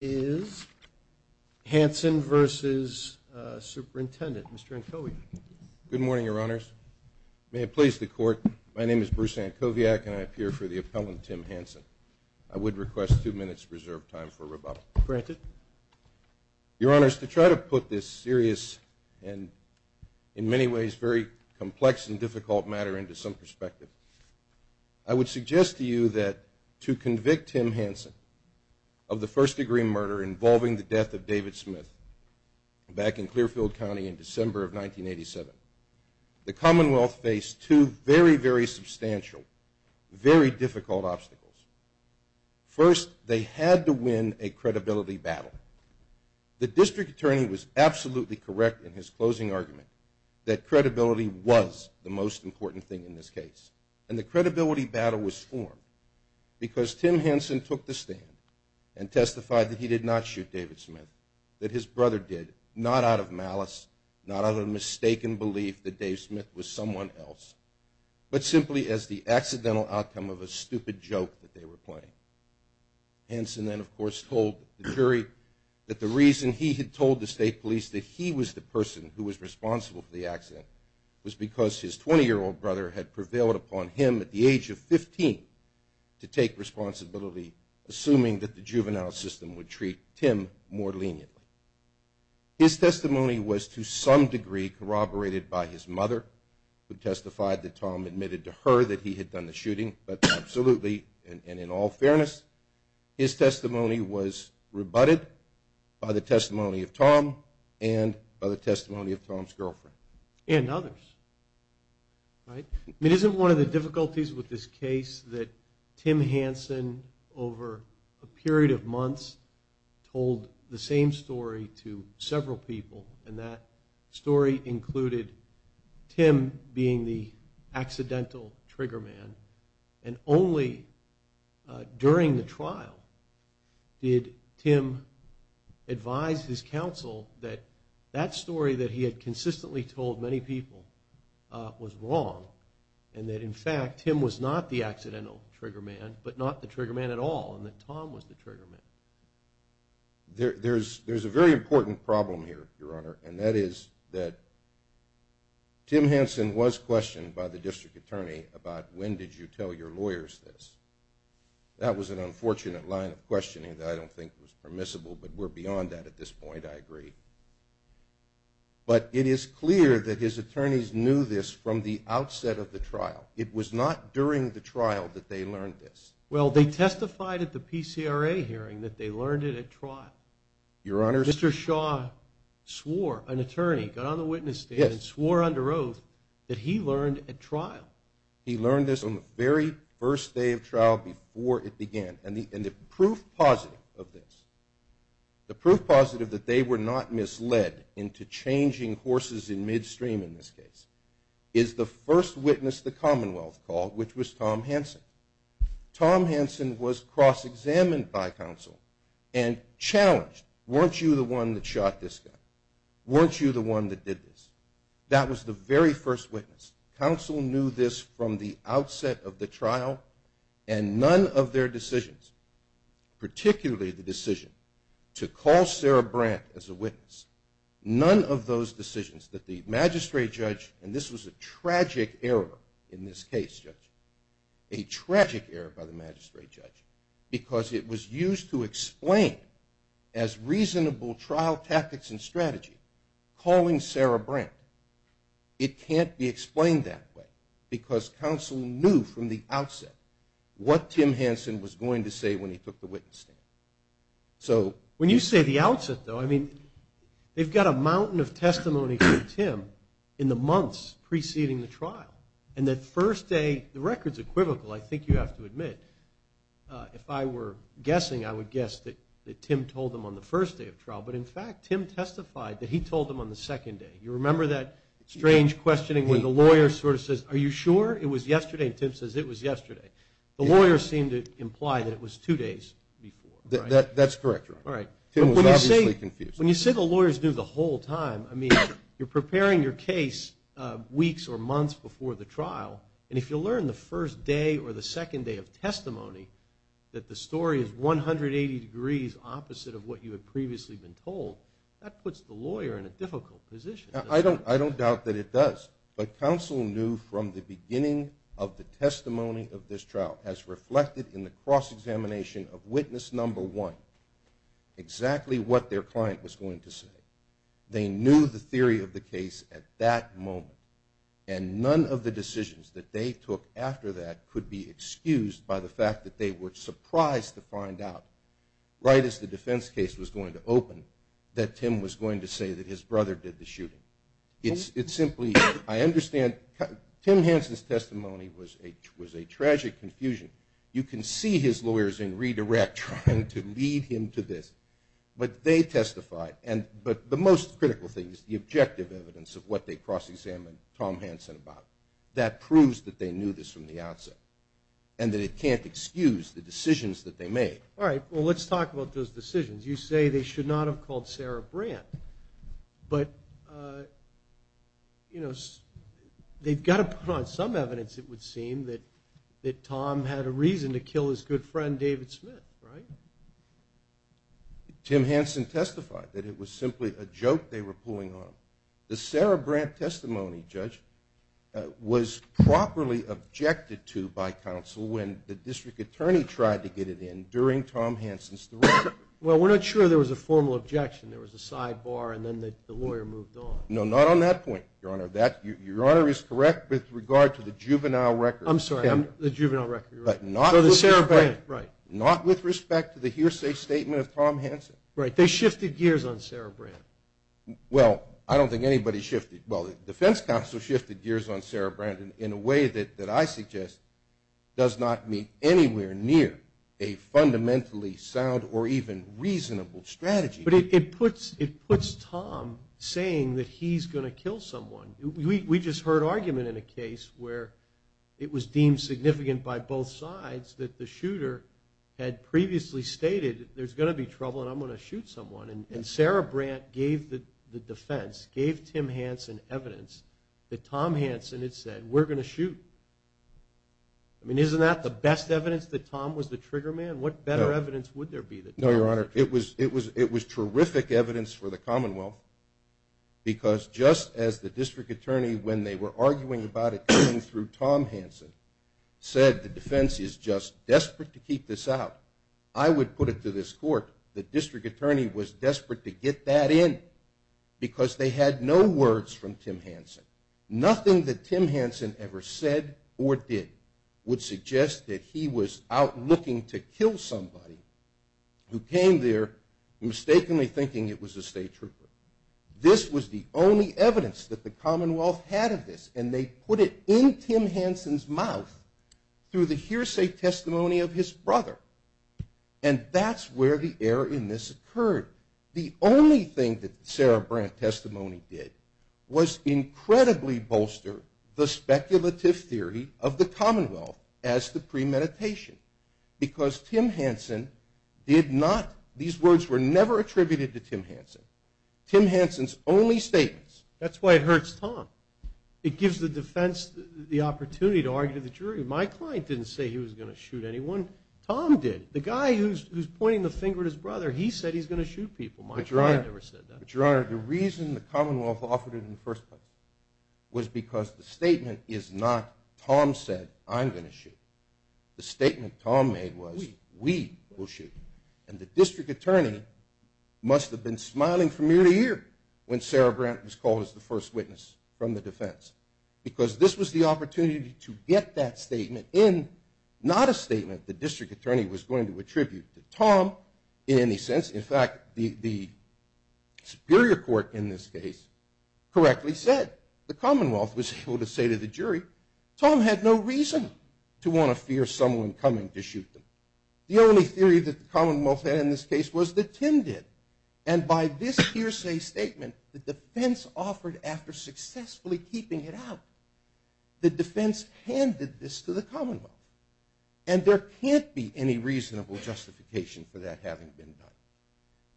Good morning, Your Honors. May it please the Court, my name is Bruce Ankoviak, and I appear for the appellant, Tim Hanson. I would request two minutes reserved time for rebuttal. Granted. Your Honors, to try to put this serious and, in many ways, very complex and difficult matter into some perspective, I would suggest to you that, to convict Tim Hanson of the first-degree murder involving the death of David Smith back in Clearfield County in December of 1987, the Commonwealth faced two very, very substantial, very difficult obstacles. First, they had to win a credibility battle. The District Attorney was absolutely correct in his closing argument that credibility was the most important thing in this case. And the credibility battle was formed because Tim Hanson took the stand and testified that he did not shoot David Smith, that his brother did, not out of malice, not out of a mistaken belief that Dave Smith was someone else, but simply as the accidental outcome of a stupid joke that they were playing. Hanson then, of course, told the jury that the reason he had told the State Police that he was the person who was had prevailed upon him at the age of 15 to take responsibility, assuming that the juvenile system would treat Tim more leniently. His testimony was, to some degree, corroborated by his mother, who testified that Tom admitted to her that he had done the shooting. But absolutely, and in all fairness, his testimony was rebutted by the testimony of Tom and by the testimony of Tom's girlfriend. And others, right? It isn't one of the difficulties with this case that Tim Hanson, over a period of months, told the same story to several people, and that story included Tim being the accidental trigger man. And only during the trial did Tim advise his counsel that that story that he had consistently told many people was wrong, and that, in fact, Tim was not the accidental trigger man, but not the trigger man at all, and that Tom was the trigger man. There's a very important problem here, Your Honor, and that is that Tim Hanson was questioned by the District Attorney about when did you tell your lawyers this. That was an unfortunate line of questioning that I don't think was permissible, but we're beyond that at this point, I agree. But it is clear that his attorneys knew this from the outset of the trial. It was not during the trial that they learned this. Well, they testified at the PCRA hearing that they learned it at trial. Your Honor, Mr. Shaw swore, an attorney, got on the witness stand and swore under oath that he learned at trial. He learned this on the very first day of trial before it began, and the proof positive of this, the proof positive that they were not misled into changing horses in midstream in this case, is the first witness the Commonwealth called, which was Tom Hanson. Tom Hanson was cross-examined by counsel and challenged, weren't you the one that shot this guy? Weren't you the one that did this? That was the very first witness. Counsel knew this from the outset of the trial, and none of their decisions, particularly the decision to call Sarah Brandt as a witness, none of those decisions that the magistrate judge, and this was a tragic error in this case, Judge, a tragic error by the magistrate judge, because it was used to explain as reasonable trial tactics and strategy, calling Sarah Brandt. It can't be explained that way, because counsel knew from the outset what Tim Hanson was going to say when he took the witness stand. So... When you say the outset, though, I mean, they've got a mountain of testimony from Tim in the months preceding the trial, and that first day, the record's equivocal, I think you have to admit. If I were guessing, I would guess that Tim told them on the first day of trial, but in fact, Tim testified that he told them on the second day. You remember that strange questioning where the lawyer sort of says, are you sure? It was yesterday, and Tim says, it was yesterday. The lawyer seemed to imply that it was two days before. That's correct, Your Honor. Tim was obviously confused. When you say the lawyers knew the whole time, I mean, you're preparing your case weeks or months before the trial, and if you learn the first day or the second day of testimony, that the story is 180 degrees opposite of what you had previously been told, that puts the lawyer in a difficult position. I don't doubt that it does, but counsel knew from the beginning of the testimony of this trial, as reflected in the cross-examination of witness number one, exactly what their client was going to say. They knew the theory of the case at that moment, and none of the decisions that they took after that could be excused by the fact that they were surprised to find out, right as the defense case was going to open, that Tim was going to say that his brother did the shooting. It's simply, I understand, Tim Hansen's testimony was a tragic confusion. You can see his lawyers in redirect trying to lead him to this. But they testified, but the most critical thing is the objective evidence of what they cross-examined Tom Hansen about. That proves that they knew this from the outset, and that it can't excuse the decisions that they made. All right, well, let's talk about those decisions. You say they should not have called Sarah Brandt, but they've got to put on some evidence, it would seem, that Tom had a reason to kill his good friend David Smith, right? Tim Hansen testified that it was simply a joke they were pulling on him. The Sarah Brandt testimony, Judge, was properly objected to by counsel when the district attorney tried to get it in during Tom Hansen's direction. Well, we're not sure there was a formal objection. There was a sidebar, and then the lawyer moved on. No, not on that point, Your Honor. Your Honor is correct with regard to the juvenile record. I'm sorry, the juvenile record, you're right. So the Sarah Brandt, right. Not with respect to the hearsay statement of Tom Hansen. Right. They shifted gears on Sarah Brandt. Well, I don't think anybody shifted. Well, the defense counsel shifted gears on Sarah Brandt in a way that I suggest does not meet anywhere near a fundamentally sound or even reasonable strategy. But it puts Tom saying that he's going to kill someone. We just heard argument in a case where it was deemed significant by both sides that the shooter had previously stated there's going to be trouble and I'm going to shoot someone. And Sarah Brandt gave the defense, gave Tim Hansen evidence that Tom Hansen had said, we're going to shoot. I mean, isn't that the best evidence that Tom was the trigger man? What better evidence would there be that Tom was the trigger man? No, Your Honor, it was terrific evidence for the Commonwealth because just as the district attorney, when they were arguing about it was desperate to keep this out, I would put it to this court that district attorney was desperate to get that in because they had no words from Tim Hansen. Nothing that Tim Hansen ever said or did would suggest that he was out looking to kill somebody who came there mistakenly thinking it was a state trooper. This was the only evidence that the Commonwealth had of this and they put it in Tim Hansen's mouth through the hearsay testimony of his brother. And that's where the error in this occurred. The only thing that Sarah Brandt testimony did was incredibly bolster the speculative theory of the Commonwealth as to premeditation because Tim Hansen did not, these words were never attributed to Tim Hansen. Tim Hansen's only statements. That's why it hurts Tom. It gives the defense the opportunity to argue to the jury. My client didn't say he was going to shoot anyone. Tom did. The guy who's pointing the finger at his brother, he said he's going to shoot people. My client never said that. But, Your Honor, the reason the Commonwealth offered it in the first place was because the statement is not Tom said I'm going to shoot. The statement Tom made was we will shoot. And the district attorney must have been smiling from ear to ear when Sarah Brandt was called as the first witness from the defense because this was the opportunity to get that statement in, not a statement the district attorney was going to attribute to Tom in any sense. In fact, the superior court in this case correctly said the Commonwealth was able to say to the jury Tom had no reason to want to fear someone coming to shoot them. The only theory that the Commonwealth had in this case was that Tim did. And by this hearsay statement, the defense offered after successfully keeping it out, the defense handed this to the Commonwealth. And there can't be any reasonable justification for that having been done.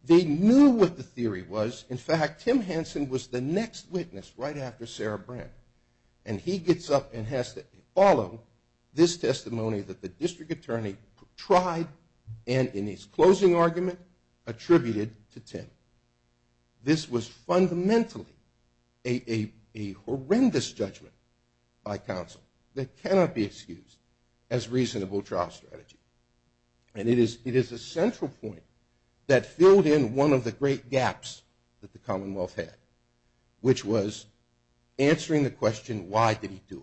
They knew what the theory was. In fact, Tim Hanson was the next witness right after Sarah Brandt. And he gets up and has to follow this testimony that the district attorney tried and in his closing argument attributed to Tim. This was fundamentally a horrendous judgment by counsel that cannot be excused as reasonable trial strategy. And it is a central point that filled in one of the great gaps that the Commonwealth had, which was answering the question why did he do it.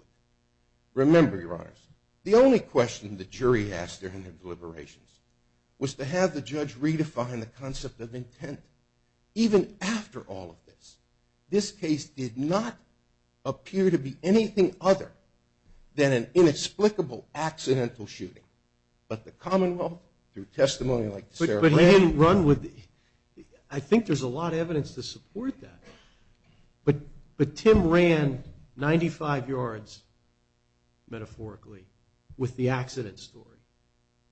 Remember, Your Honors, the only question the jury asked during their deliberations was to have the judge redefine the concept of intent. Even after all of this, this case did not appear to be anything other than an inexplicable accidental shooting. But the Commonwealth, through testimony like Sarah Brandt... But he didn't run with the... I think there's a lot of evidence to support that. But Tim ran 95 yards, metaphorically, with the accident story.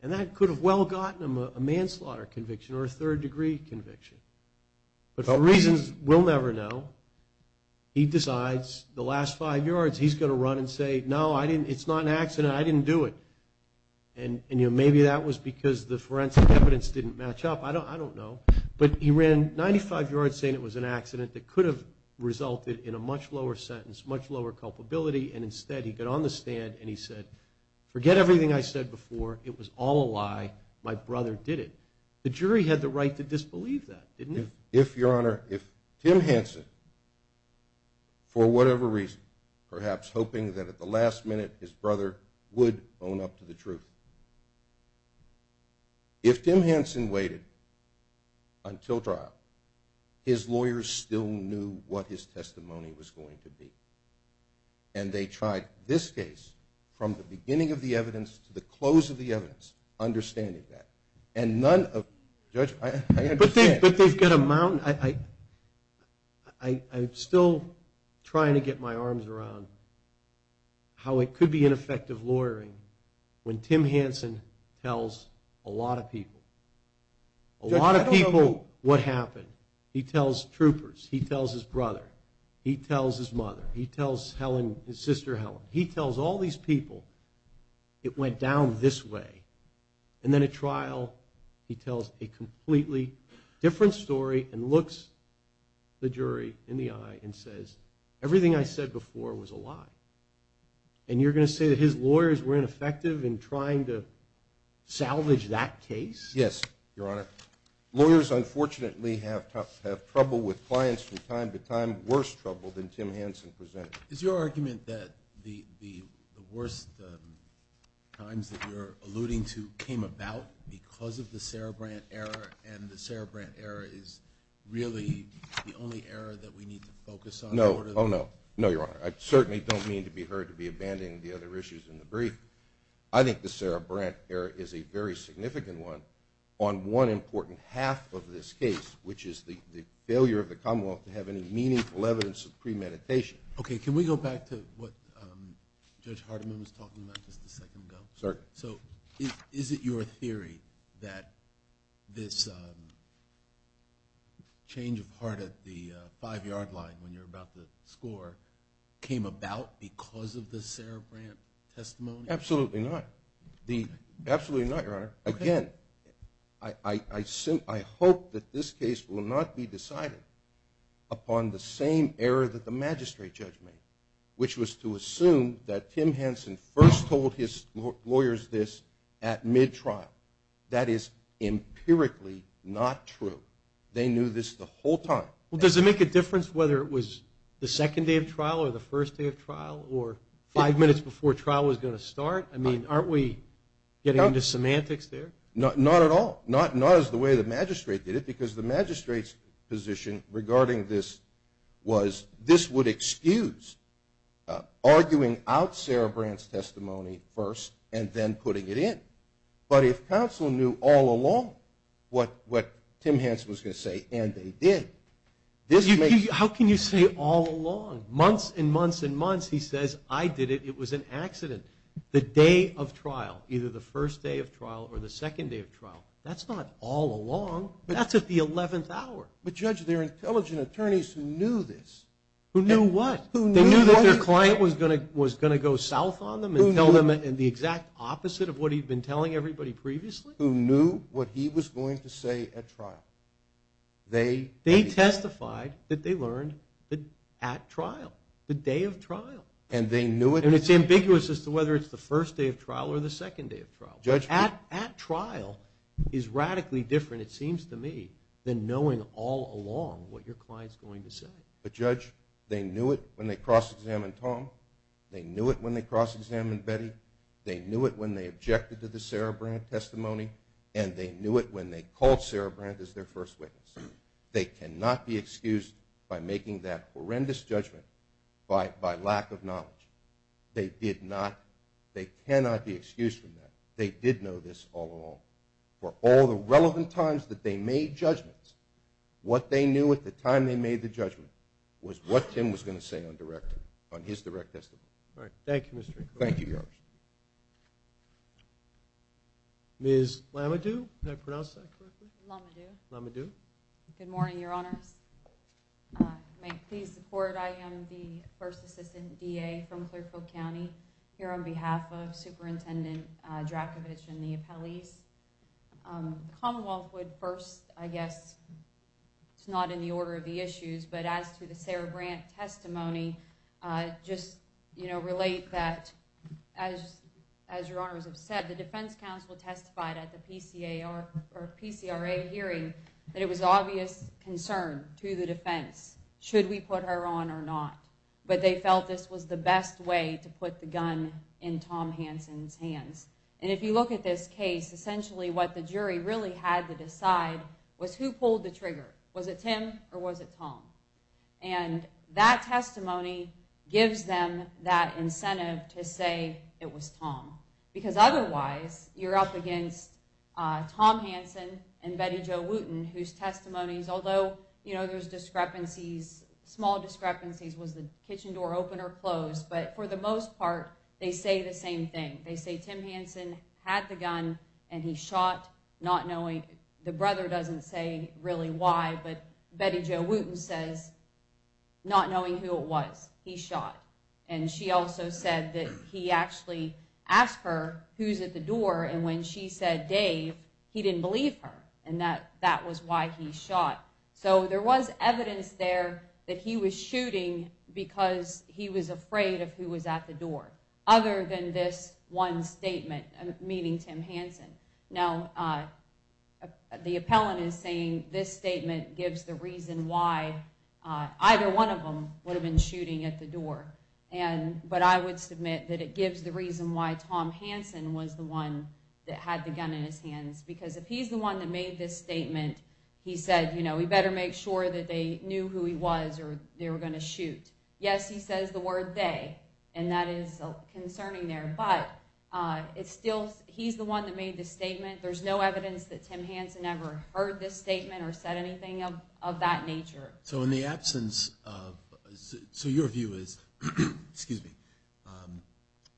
And that could have well gotten him a manslaughter conviction or a third-degree conviction. But for reasons we'll never know, he decides the last five yards he's going to run and say, no, it's not an accident, I didn't do it. And maybe that was because the forensic evidence didn't match up. I don't know. But he ran 95 yards saying it was an accident that could have resulted in a much lower sentence, much lower culpability, and instead he got on the stand and he said, forget everything I said before, it was all a lie, my brother did it. The jury had the right to disbelieve that, didn't it? If, Your Honor, if Tim Henson, for whatever reason, perhaps hoping that at the last minute his brother would own up to the truth, if Tim Henson waited until trial, his lawyers still knew what his testimony was going to be. And they tried this case from the beginning of the evidence to the close of the evidence, understanding that. And none of them, Judge, I understand. But they've got a mountain. I'm still trying to get my arms around how it could be ineffective lawyering when Tim Henson tells a lot of people. A lot of people what happened. He tells troopers. He tells his brother. He tells his mother. He tells his sister Helen. He tells all these people it went down this way. And then at trial he tells a completely different story and looks the jury in the eye and says, everything I said before was a lie. And you're going to say that his lawyers were ineffective in trying to salvage that case? Yes, Your Honor. Lawyers, unfortunately, have trouble with clients from time to time, worse trouble than Tim Henson presented. Is your argument that the worst times that you're alluding to came about because of the Sarah Brandt error and the Sarah Brandt error is really the only error that we need to focus on? No. Oh, no. No, Your Honor. I certainly don't mean to be heard to be abandoning the other issues in the brief. I think the Sarah Brandt error is a very significant one on one important half of this case, which is the failure of the Commonwealth to have any meaningful evidence of premeditation. Okay. Can we go back to what Judge Hardiman was talking about just a second ago? Sorry. So is it your theory that this change of heart at the five-yard line when you're about to score came about because of the Sarah Brandt testimony? Absolutely not. Absolutely not, Your Honor. Again, I hope that this case will not be decided upon the same error that the magistrate judge made, which was to assume that Tim Henson first told his lawyers this at mid-trial. That is empirically not true. They knew this the whole time. Well, does it make a difference whether it was the second day of trial or the first day of trial or five minutes before trial was going to start? I mean, aren't we getting into semantics there? Not at all. Not as the way the magistrate did it because the magistrate's position regarding this was this would excuse arguing out Sarah Brandt's testimony first and then putting it in. But if counsel knew all along what Tim Henson was going to say and they did, this makes sense. How can you say all along? Months and months and months he says, I did it. It was an accident. The day of trial, either the first day of trial or the second day of trial, that's not all along. That's at the 11th hour. But, Judge, there are intelligent attorneys who knew this. Who knew what? They knew that their client was going to go south on them and tell them the exact opposite of what he'd been telling everybody previously? Who knew what he was going to say at trial. They testified that they learned at trial, the day of trial. And they knew it? And it's ambiguous as to whether it's the first day of trial or the second day of trial. At trial is radically different, it seems to me, than knowing all along what your client's going to say. But, Judge, they knew it when they cross-examined Tom, they knew it when they cross-examined Betty, they knew it when they objected to the Sarah Brandt testimony, and they knew it when they called Sarah Brandt as their first witness. They cannot be excused by making that horrendous judgment by lack of knowledge. They did not, they cannot be excused from that. They did know this all along. For all the relevant times that they made judgments, what they knew at the time they made the judgment was what Tim was going to say on his direct testimony. All right. Thank you, Mr. Encore. Thank you, Your Honor. Ms. Lamadou, did I pronounce that correctly? Lamadou. Lamadou. Good morning, Your Honors. You may please support, I am the first assistant DA from Clearfield County, here on behalf of Superintendent Dracovic and the appellees. Commonwealth would first, I guess, it's not in the order of the issues, but as to the Sarah Brandt testimony, just, you know, relate that, as Your Honor has said, the defense counsel testified at the PCRA hearing that it was obvious concern to the defense. Should we put her on or not? But they felt this was the best way to put the gun in Tom Hanson's hands. And if you look at this case, essentially what the jury really had to decide was who pulled the trigger. Was it Tim or was it Tom? And that testimony gives them that incentive to say it was Tom. Because otherwise, you're up against Tom Hanson and Betty Jo Wooten, whose testimonies, although, you know, there's discrepancies, small discrepancies, was the kitchen door open or closed, but for the most part, they say the same thing. They say Tim Hanson had the gun and he shot, not knowing. The brother doesn't say really why, but Betty Jo Wooten says not knowing who it was, he shot. And she also said that he actually asked her who's at the door, and when she said Dave, he didn't believe her. And that was why he shot. So there was evidence there that he was shooting because he was afraid of who was at the door. Other than this one statement, meaning Tim Hanson. Now, the appellant is saying this statement gives the reason why either one of them would have been shooting at the door. But I would submit that it gives the reason why Tom Hanson was the one that had the gun in his hands. Because if he's the one that made this statement, he said, you know, we better make sure that they knew who he was or they were going to shoot. Yes, he says the word they, and that is concerning there, but he's the one that made this statement. There's no evidence that Tim Hanson ever heard this statement or said anything of that nature. So in the absence of, so your view is, excuse me,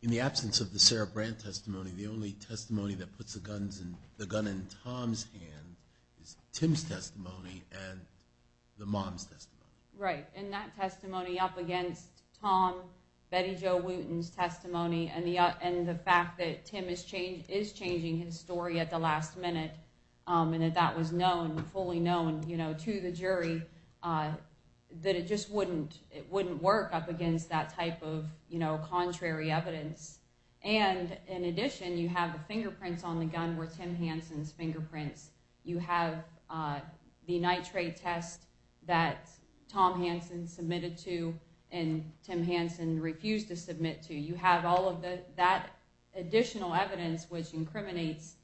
in the absence of the Sarah Brand testimony, the only testimony that puts the gun in Tom's hand is Tim's testimony and the mom's testimony. Right. And that testimony up against Tom, Betty Jo Wooten's testimony, and the and the fact that Tim is changed is changing his story at the last minute. And if that was known, fully known, you know, to the jury, that it just wouldn't, it wouldn't work up against that type of, you know, contrary evidence. And in addition, you have the fingerprints on the gun where Tim Hanson's fingerprints. You have the nitrate test that Tom Hanson submitted to and Tim Hanson refused to submit to. You have all of that additional evidence, which incriminates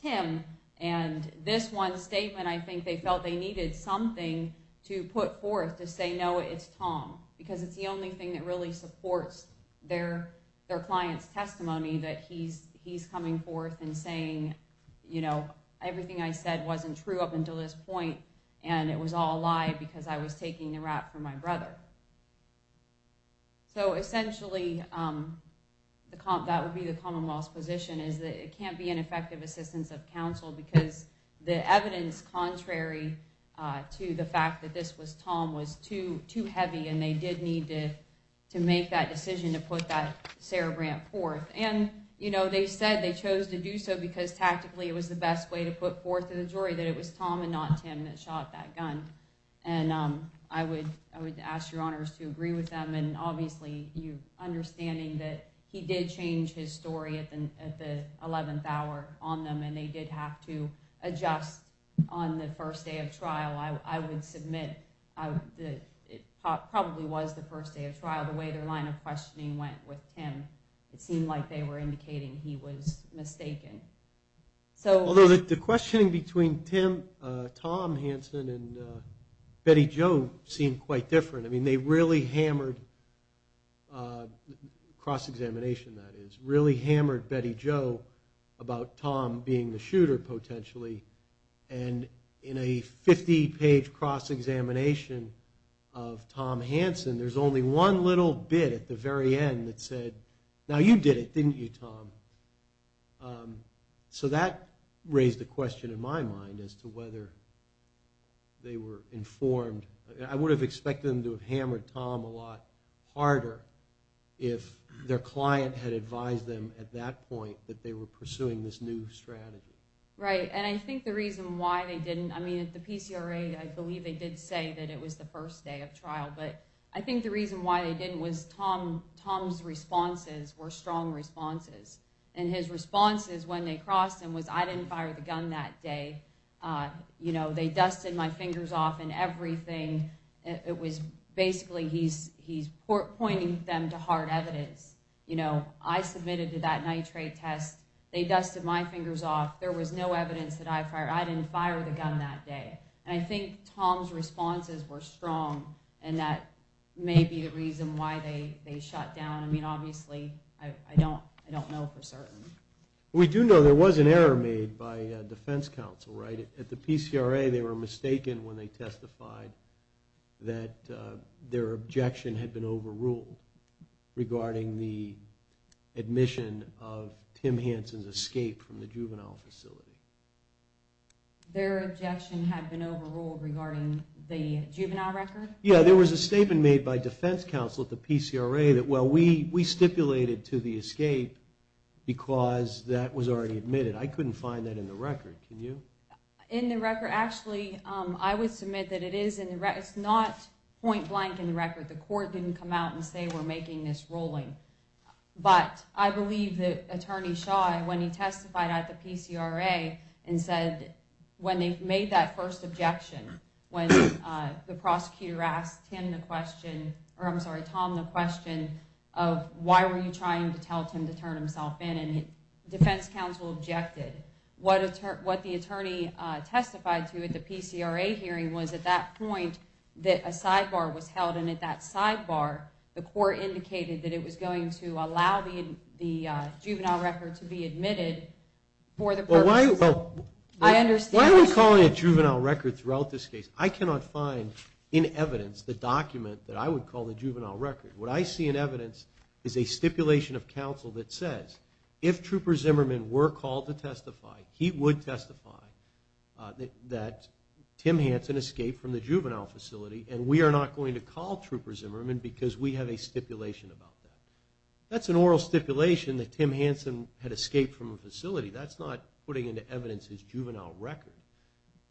Tim. And this one statement, I think they felt they needed something to put forth to say, no, it's Tom, because it's the only thing that really supports their their client's testimony that he's he's coming forth and saying, you know, everything I said wasn't true up until this point. And it was all a lie because I was taking the rap for my brother. So essentially, the comp that would be the Commonwealth's position is that it can't be an effective assistance of counsel because the evidence, contrary to the fact that this was Tom, was too too heavy. And they did need to to make that decision to put that Sarah Brand forth. And, you know, they said they chose to do so because tactically it was the best way to put forth to the jury that it was Tom and not Tim that shot that gun. And I would I would ask your honors to agree with them. And obviously, you understanding that he did change his story at the 11th hour on them and they did have to adjust on the first day of trial. I would submit that it probably was the first day of trial, the way their line of questioning went with him. It seemed like they were indicating he was mistaken. So although the questioning between Tim Tom Hansen and Betty Joe seemed quite different. I mean, they really hammered cross-examination. That is really hammered Betty Joe about Tom being the shooter potentially. And in a 50 page cross-examination of Tom Hansen, there's only one little bit at the very end that said, now you did it, didn't you, Tom? So that raised the question in my mind as to whether they were informed. I would have expected them to have hammered Tom a lot harder if their client had advised them at that point that they were pursuing this new strategy. Right. And I think the reason why they didn't I mean, at the PCRA, I believe they did say that it was the first day of trial. But I think the reason why they didn't was Tom Tom's responses were strong responses. And his responses when they crossed him was I didn't fire the gun that day. You know, they dusted my fingers off and everything. It was basically he's he's pointing them to hard evidence. You know, I submitted to that nitrate test. They dusted my fingers off. There was no evidence that I fired. I didn't fire the gun that day. And I think Tom's responses were strong. And that may be the reason why they they shut down. I mean, obviously, I don't I don't know for certain. We do know there was an error made by defense counsel right at the PCRA. They were mistaken when they testified that their objection had been overruled regarding the admission of Tim Hansen's escape from the juvenile facility. Their objection had been overruled regarding the juvenile record. Yeah, there was a statement made by defense counsel at the PCRA that, well, we we stipulated to the escape because that was already admitted. I couldn't find that in the record. Can you? In the record? Actually, I would submit that it is in the record. It's not point blank in the record. The court didn't come out and say we're making this rolling. But I believe that Attorney Shaw, when he testified at the PCRA and said when they made that first objection, when the prosecutor asked him the question or I'm sorry, Tom, the question of why were you trying to tell him to turn himself in? Defense counsel objected. What the attorney testified to at the PCRA hearing was at that point that a sidebar was held, and at that sidebar the court indicated that it was going to allow the juvenile record to be admitted for the purpose. Well, why are we calling it juvenile record throughout this case? I cannot find in evidence the document that I would call the juvenile record. What I see in evidence is a stipulation of counsel that says if Trooper Zimmerman were called to testify, he would testify that Tim Hansen escaped from the juvenile facility, and we are not going to call Trooper Zimmerman because we have a stipulation about that. That's an oral stipulation that Tim Hansen had escaped from a facility. That's not putting into evidence his juvenile record.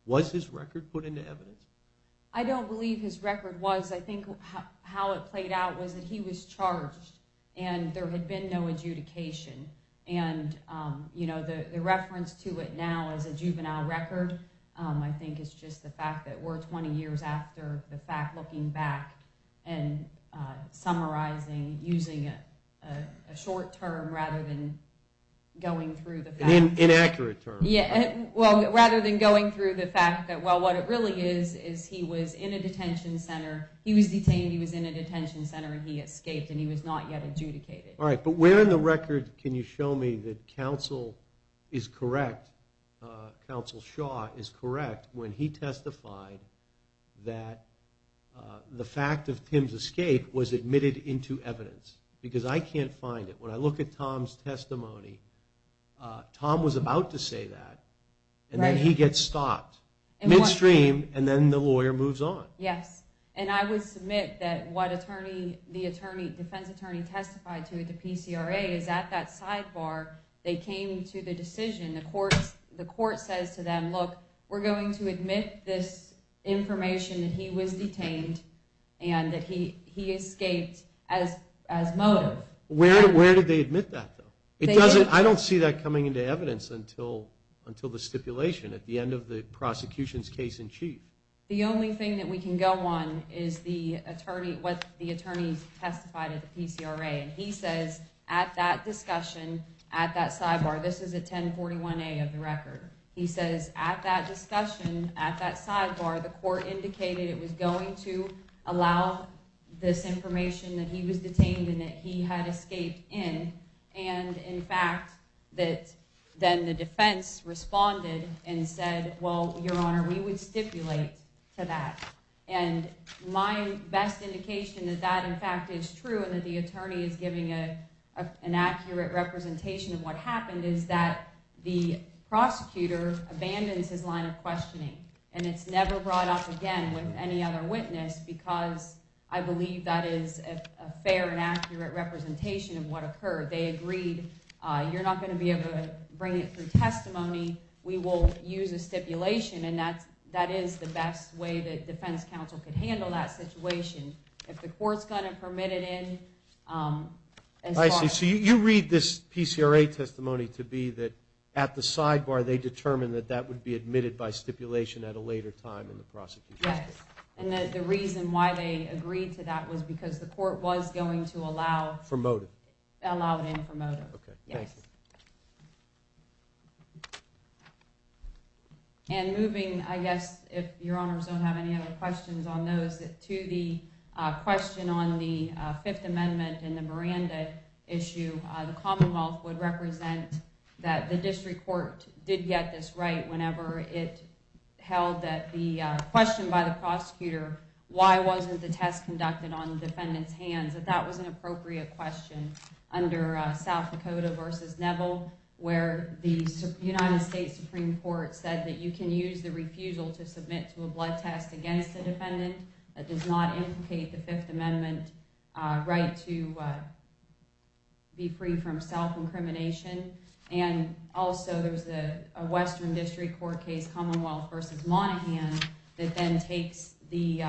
Was his record put into evidence? I don't believe his record was. I think how it played out was that he was charged and there had been no adjudication, and the reference to it now as a juvenile record I think is just the fact that we're 20 years after the fact, looking back and summarizing using a short term rather than going through the facts. An inaccurate term. Rather than going through the fact that what it really is is he was in a detention center. He was detained. He was in a detention center, and he escaped, and he was not yet adjudicated. All right, but where in the record can you show me that counsel is correct, counsel Shaw is correct when he testified that the fact of Tim's escape was admitted into evidence? Because I can't find it. When I look at Tom's testimony, Tom was about to say that, and then he gets stopped midstream, and then the lawyer moves on. Yes, and I would submit that what the defense attorney testified to at the PCRA is at that sidebar, they came to the decision, the court says to them, look, we're going to admit this information that he was detained and that he escaped as motive. Where did they admit that, though? I don't see that coming into evidence until the stipulation at the end of the prosecution's case in chief. The only thing that we can go on is what the attorney testified at the PCRA, and he says at that discussion, at that sidebar, this is a 1041A of the record. He says at that discussion, at that sidebar, the court indicated it was going to allow this information that he was detained and that he had escaped in, and, in fact, that then the defense responded and said, well, Your Honor, we would stipulate to that. And my best indication that that, in fact, is true and that the attorney is giving an accurate representation of what happened is that the prosecutor abandons his line of questioning, and it's never brought up again with any other witness because I believe that is a fair and accurate representation of what occurred. They agreed, you're not going to be able to bring it through testimony. We will use a stipulation, and that is the best way that defense counsel can handle that situation. If the court's going to permit it in, as far as— I see. So you read this PCRA testimony to be that, at the sidebar, they determined that that would be admitted by stipulation at a later time in the prosecution's case. Yes, and the reason why they agreed to that was because the court was going to allow— Promote it. Allow it and promote it. Okay, thank you. Yes. And moving, I guess, if Your Honors don't have any other questions on those, to the question on the Fifth Amendment and the Miranda issue, the Commonwealth would represent that the district court did get this right whenever it held that the question by the prosecutor, why wasn't the test conducted on the defendant's hands, that that was an appropriate question under South Dakota v. Neville, where the United States Supreme Court said that you can use the refusal to submit to a blood test against a defendant. That does not implicate the Fifth Amendment right to be free from self-incrimination. And also, there's a Western District Court case, Commonwealth v. Monaghan, that then takes the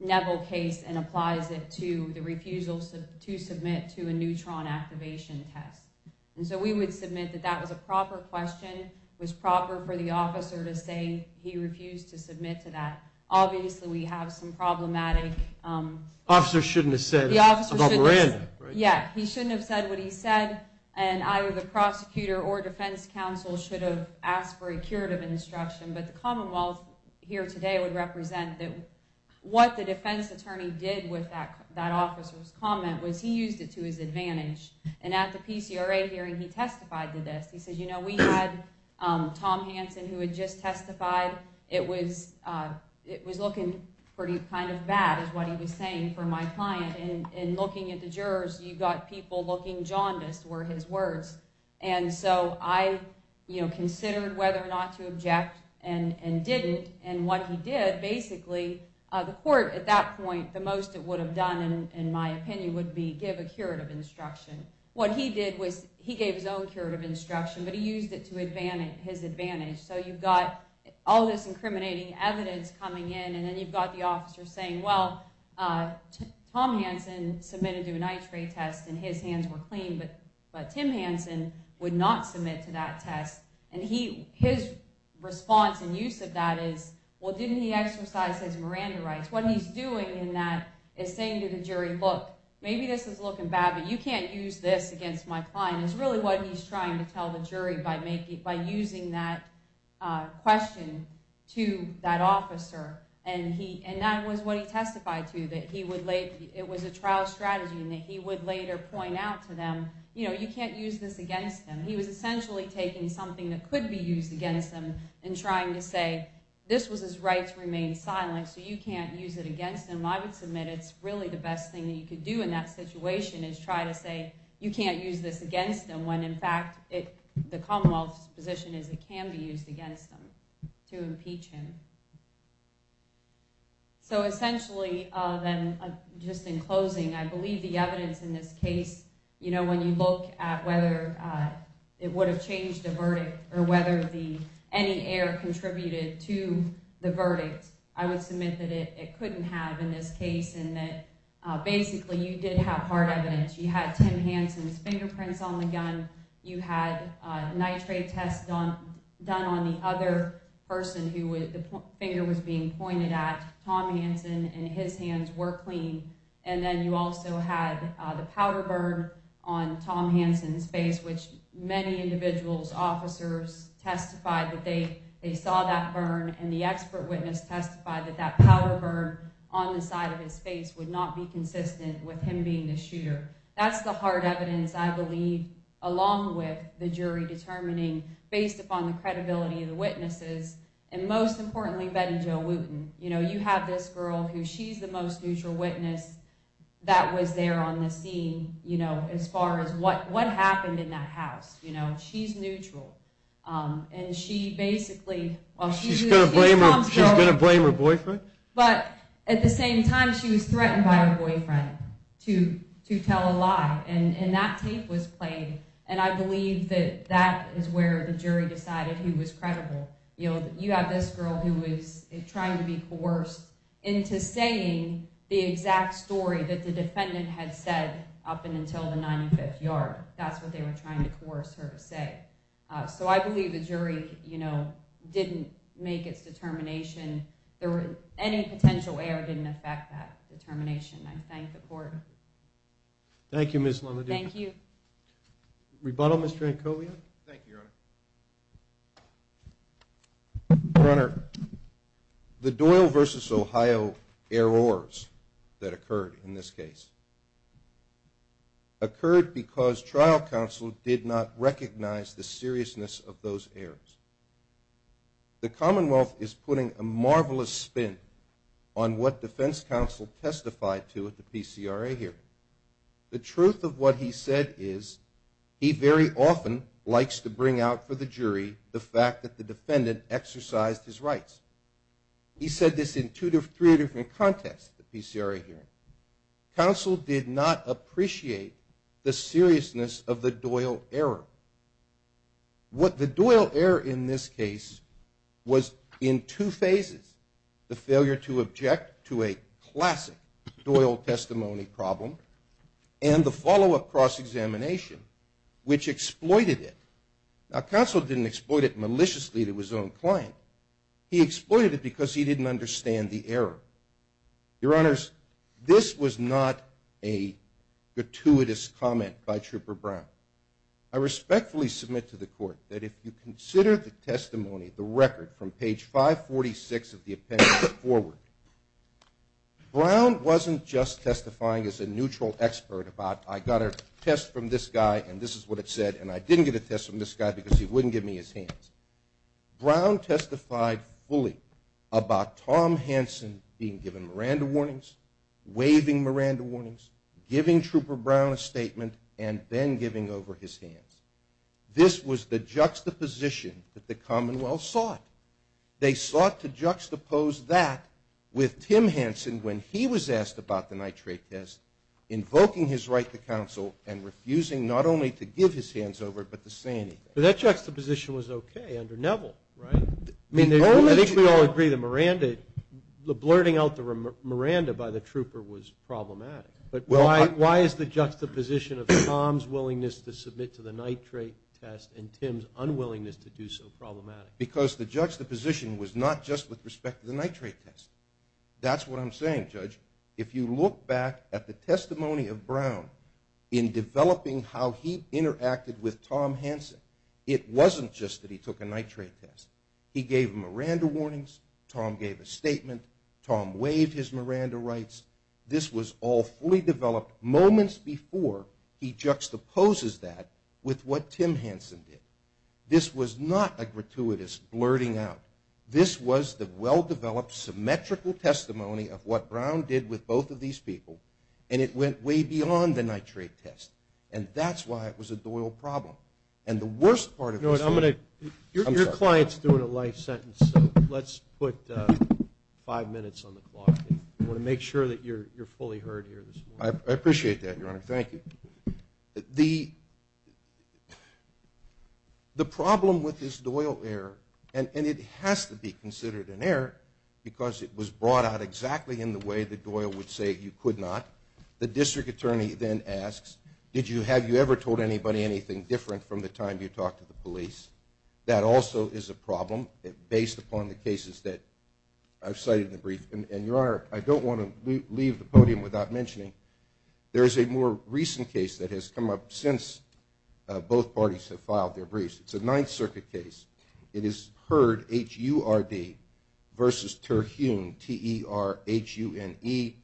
Neville case and applies it to the refusal to submit to a neutron activation test. And so we would submit that that was a proper question, was proper for the officer to say he refused to submit to that. Obviously, we have some problematic— Officers shouldn't have said about Miranda, right? Yeah, he shouldn't have said what he said, and either the prosecutor or defense counsel should have asked for a curative instruction. But the Commonwealth here today would represent that what the defense attorney did with that officer's comment was he used it to his advantage. And at the PCRA hearing, he testified to this. He said, you know, we had Tom Hanson who had just testified. It was looking pretty kind of bad, is what he was saying, for my client. And looking at the jurors, you've got people looking jaundiced were his words. And so I, you know, considered whether or not to object and didn't. And what he did, basically, the court at that point, the most it would have done, in my opinion, would be give a curative instruction. What he did was he gave his own curative instruction, but he used it to his advantage. So you've got all this incriminating evidence coming in, and then you've got the officer saying, well, Tom Hanson submitted to an x-ray test, and his hands were clean, but Tim Hanson would not submit to that test. And his response and use of that is, well, didn't he exercise his Miranda rights? What he's doing in that is saying to the jury, look, maybe this is looking bad, but you can't use this against my client, is really what he's trying to tell the jury by using that question to that officer. And that was what he testified to, that it was a trial strategy, and that he would later point out to them, you know, you can't use this against him. He was essentially taking something that could be used against him and trying to say this was his right to remain silent, so you can't use it against him. I would submit it's really the best thing that you could do in that situation is try to say, you can't use this against him when, in fact, the Commonwealth's position is it can be used against him to impeach him. So essentially then, just in closing, I believe the evidence in this case, you know, when you look at whether it would have changed the verdict or whether any error contributed to the verdict, I would submit that it couldn't have in this case and that basically you did have hard evidence. You had Tim Hansen's fingerprints on the gun. You had a nitrate test done on the other person who the finger was being pointed at. Tom Hansen and his hands were clean. And then you also had the powder burn on Tom Hansen's face, which many individuals, officers testified that they saw that burn, and the expert witness testified that that powder burn on the side of his face would not be consistent with him being the shooter. That's the hard evidence I believe, along with the jury determining, based upon the credibility of the witnesses, and most importantly, Betty Jo Wooten. You know, you have this girl who she's the most neutral witness that was there on the scene, you know, as far as what happened in that house, you know. She's neutral. And she basically, well, she's going to blame her boyfriend. But at the same time, she was threatened by her boyfriend to tell a lie, and that tape was played. And I believe that that is where the jury decided he was credible. You have this girl who was trying to be coerced into saying the exact story that the defendant had said up until the 95th yard. That's what they were trying to coerce her to say. So I believe the jury, you know, didn't make its determination. Any potential error didn't affect that determination. I thank the court. Thank you, Ms. Lamadina. Thank you. Rebuttal, Mr. Ancovia? Thank you, Your Honor. Your Honor, the Doyle v. Ohio errors that occurred in this case occurred because trial counsel did not recognize the seriousness of those errors. The Commonwealth is putting a marvelous spin on what defense counsel testified to at the PCRA hearing. The truth of what he said is he very often likes to bring out for the jury the fact that the defendant exercised his rights. He said this in two or three different contexts at the PCRA hearing. Counsel did not appreciate the seriousness of the Doyle error. The Doyle error in this case was in two phases, the failure to object to a classic Doyle testimony problem and the follow-up cross-examination, which exploited it. Now, counsel didn't exploit it maliciously to his own client. He exploited it because he didn't understand the error. Your Honors, this was not a gratuitous comment by Trooper Brown. I respectfully submit to the Court that if you consider the testimony, the record from page 546 of the appendix put forward, Brown wasn't just testifying as a neutral expert about I got a test from this guy and this is what it said and I didn't get a test from this guy because he wouldn't give me his hands. Brown testified fully about Tom Hanson being given Miranda warnings, waiving Miranda warnings, giving Trooper Brown a statement and then giving over his hands. This was the juxtaposition that the Commonwealth sought. They sought to juxtapose that with Tim Hanson when he was asked about the nitrate test, invoking his right to counsel and refusing not only to give his hands over but to say anything. But that juxtaposition was okay under Neville, right? I think we all agree that Miranda, the blurting out the Miranda by the Trooper was problematic. But why is the juxtaposition of Tom's willingness to submit to the nitrate test and Tim's unwillingness to do so problematic? Because the juxtaposition was not just with respect to the nitrate test. That's what I'm saying, Judge. If you look back at the testimony of Brown in developing how he interacted with Tom Hanson, it wasn't just that he took a nitrate test. He gave him Miranda warnings. Tom gave a statement. Tom waived his Miranda rights. This was all fully developed moments before he juxtaposes that with what Tim Hanson did. This was not a gratuitous blurting out. This was the well-developed symmetrical testimony of what Brown did with both of these people, and it went way beyond the nitrate test. And that's why it was a Doyle problem. And the worst part of this— Your client's doing a life sentence, so let's put five minutes on the clock. I want to make sure that you're fully heard here this morning. I appreciate that, Your Honor. Thank you. The problem with this Doyle error, and it has to be considered an error because it was brought out exactly in the way that Doyle would say you could not. The district attorney then asks, have you ever told anybody anything different from the time you talked to the police? That also is a problem based upon the cases that I've cited in the brief. And, Your Honor, I don't want to leave the podium without mentioning there is a more recent case that has come up since both parties have filed their briefs. It's a Ninth Circuit case. It is Hurd, H-U-R-D, versus Terhune, T-E-R-H-U-N-E.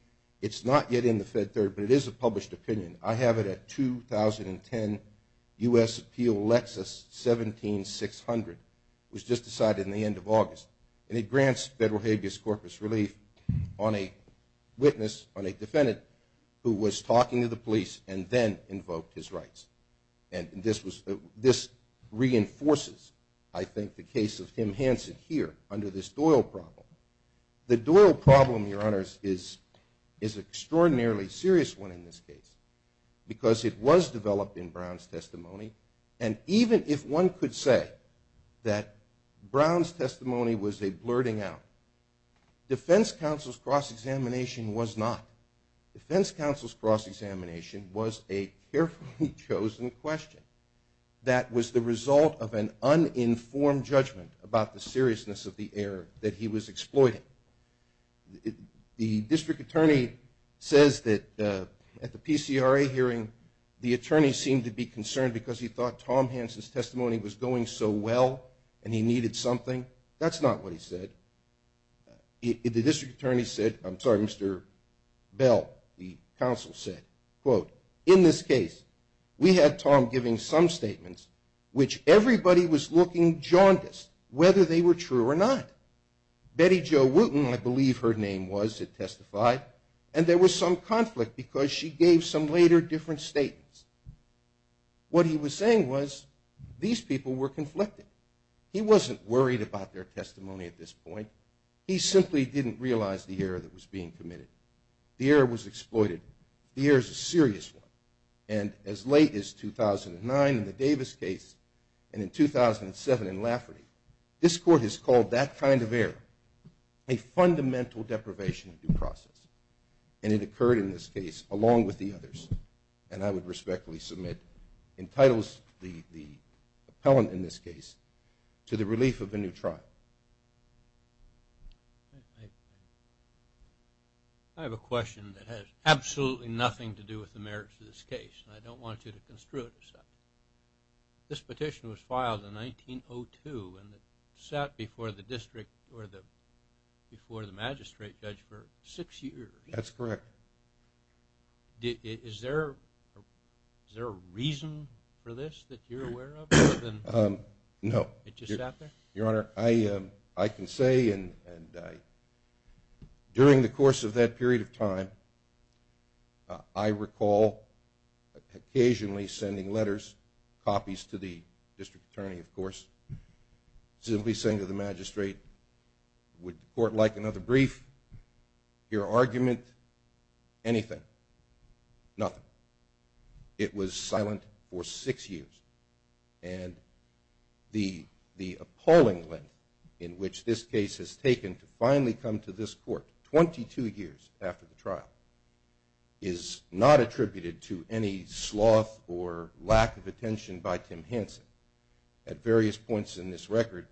It's not yet in the Fed Third, but it is a published opinion. I have it at 2010 U.S. Appeal Lexus 17600. It was just decided in the end of August. And it grants federal habeas corpus relief on a witness, on a defendant, who was talking to the police and then invoked his rights. And this reinforces, I think, the case of Tim Hansen here under this Doyle problem. The Doyle problem, Your Honors, is an extraordinarily serious one in this case because it was developed in Brown's testimony. And even if one could say that Brown's testimony was a blurting out, defense counsel's cross-examination was not. Defense counsel's cross-examination was a carefully chosen question that was the result of an uninformed judgment about the seriousness of the error that he was exploiting. The district attorney says that at the PCRA hearing the attorney seemed to be concerned because he thought Tom Hansen's testimony was going so well and he needed something. That's not what he said. The district attorney said, I'm sorry, Mr. Bell, the counsel said, quote, in this case we had Tom giving some statements which everybody was looking jaundiced whether they were true or not. Betty Jo Wooten, I believe her name was, had testified, and there was some conflict because she gave some later different statements. What he was saying was these people were conflicted. He wasn't worried about their testimony at this point. He simply didn't realize the error that was being committed. The error was exploited. The error is a serious one. And as late as 2009 in the Davis case and in 2007 in Lafferty, this court has called that kind of error a fundamental deprivation of due process, and it occurred in this case along with the others, and I would respectfully submit, entitles the appellant in this case to the relief of a new trial. I have a question that has absolutely nothing to do with the merits of this case, and I don't want you to construe it. This petition was filed in 1902 and it sat before the district or before the magistrate judge for six years. That's correct. Is there a reason for this that you're aware of? No. It just sat there? Your Honor, I can say, and during the course of that period of time, I recall occasionally sending letters, copies to the district attorney, of course, simply saying to the magistrate, would the court like another brief, your argument, anything? Nothing. It was silent for six years. And the appalling length in which this case has taken to finally come to this court, 22 years after the trial, is not attributed to any sloth or lack of attention by Tim Hanson. At various points in this record,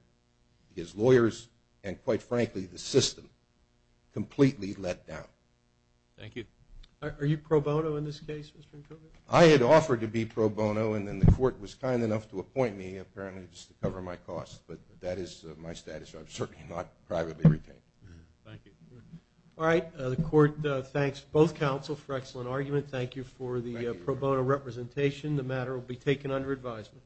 his lawyers and quite frankly the system completely let down. Thank you. Are you pro bono in this case, Mr. Nkobe? I had offered to be pro bono and then the court was kind enough to appoint me, apparently just to cover my costs, but that is my status. I'm certainly not privately retained. Thank you. All right. The court thanks both counsel for excellent argument. Thank you for the pro bono representation. The matter will be taken under advisement.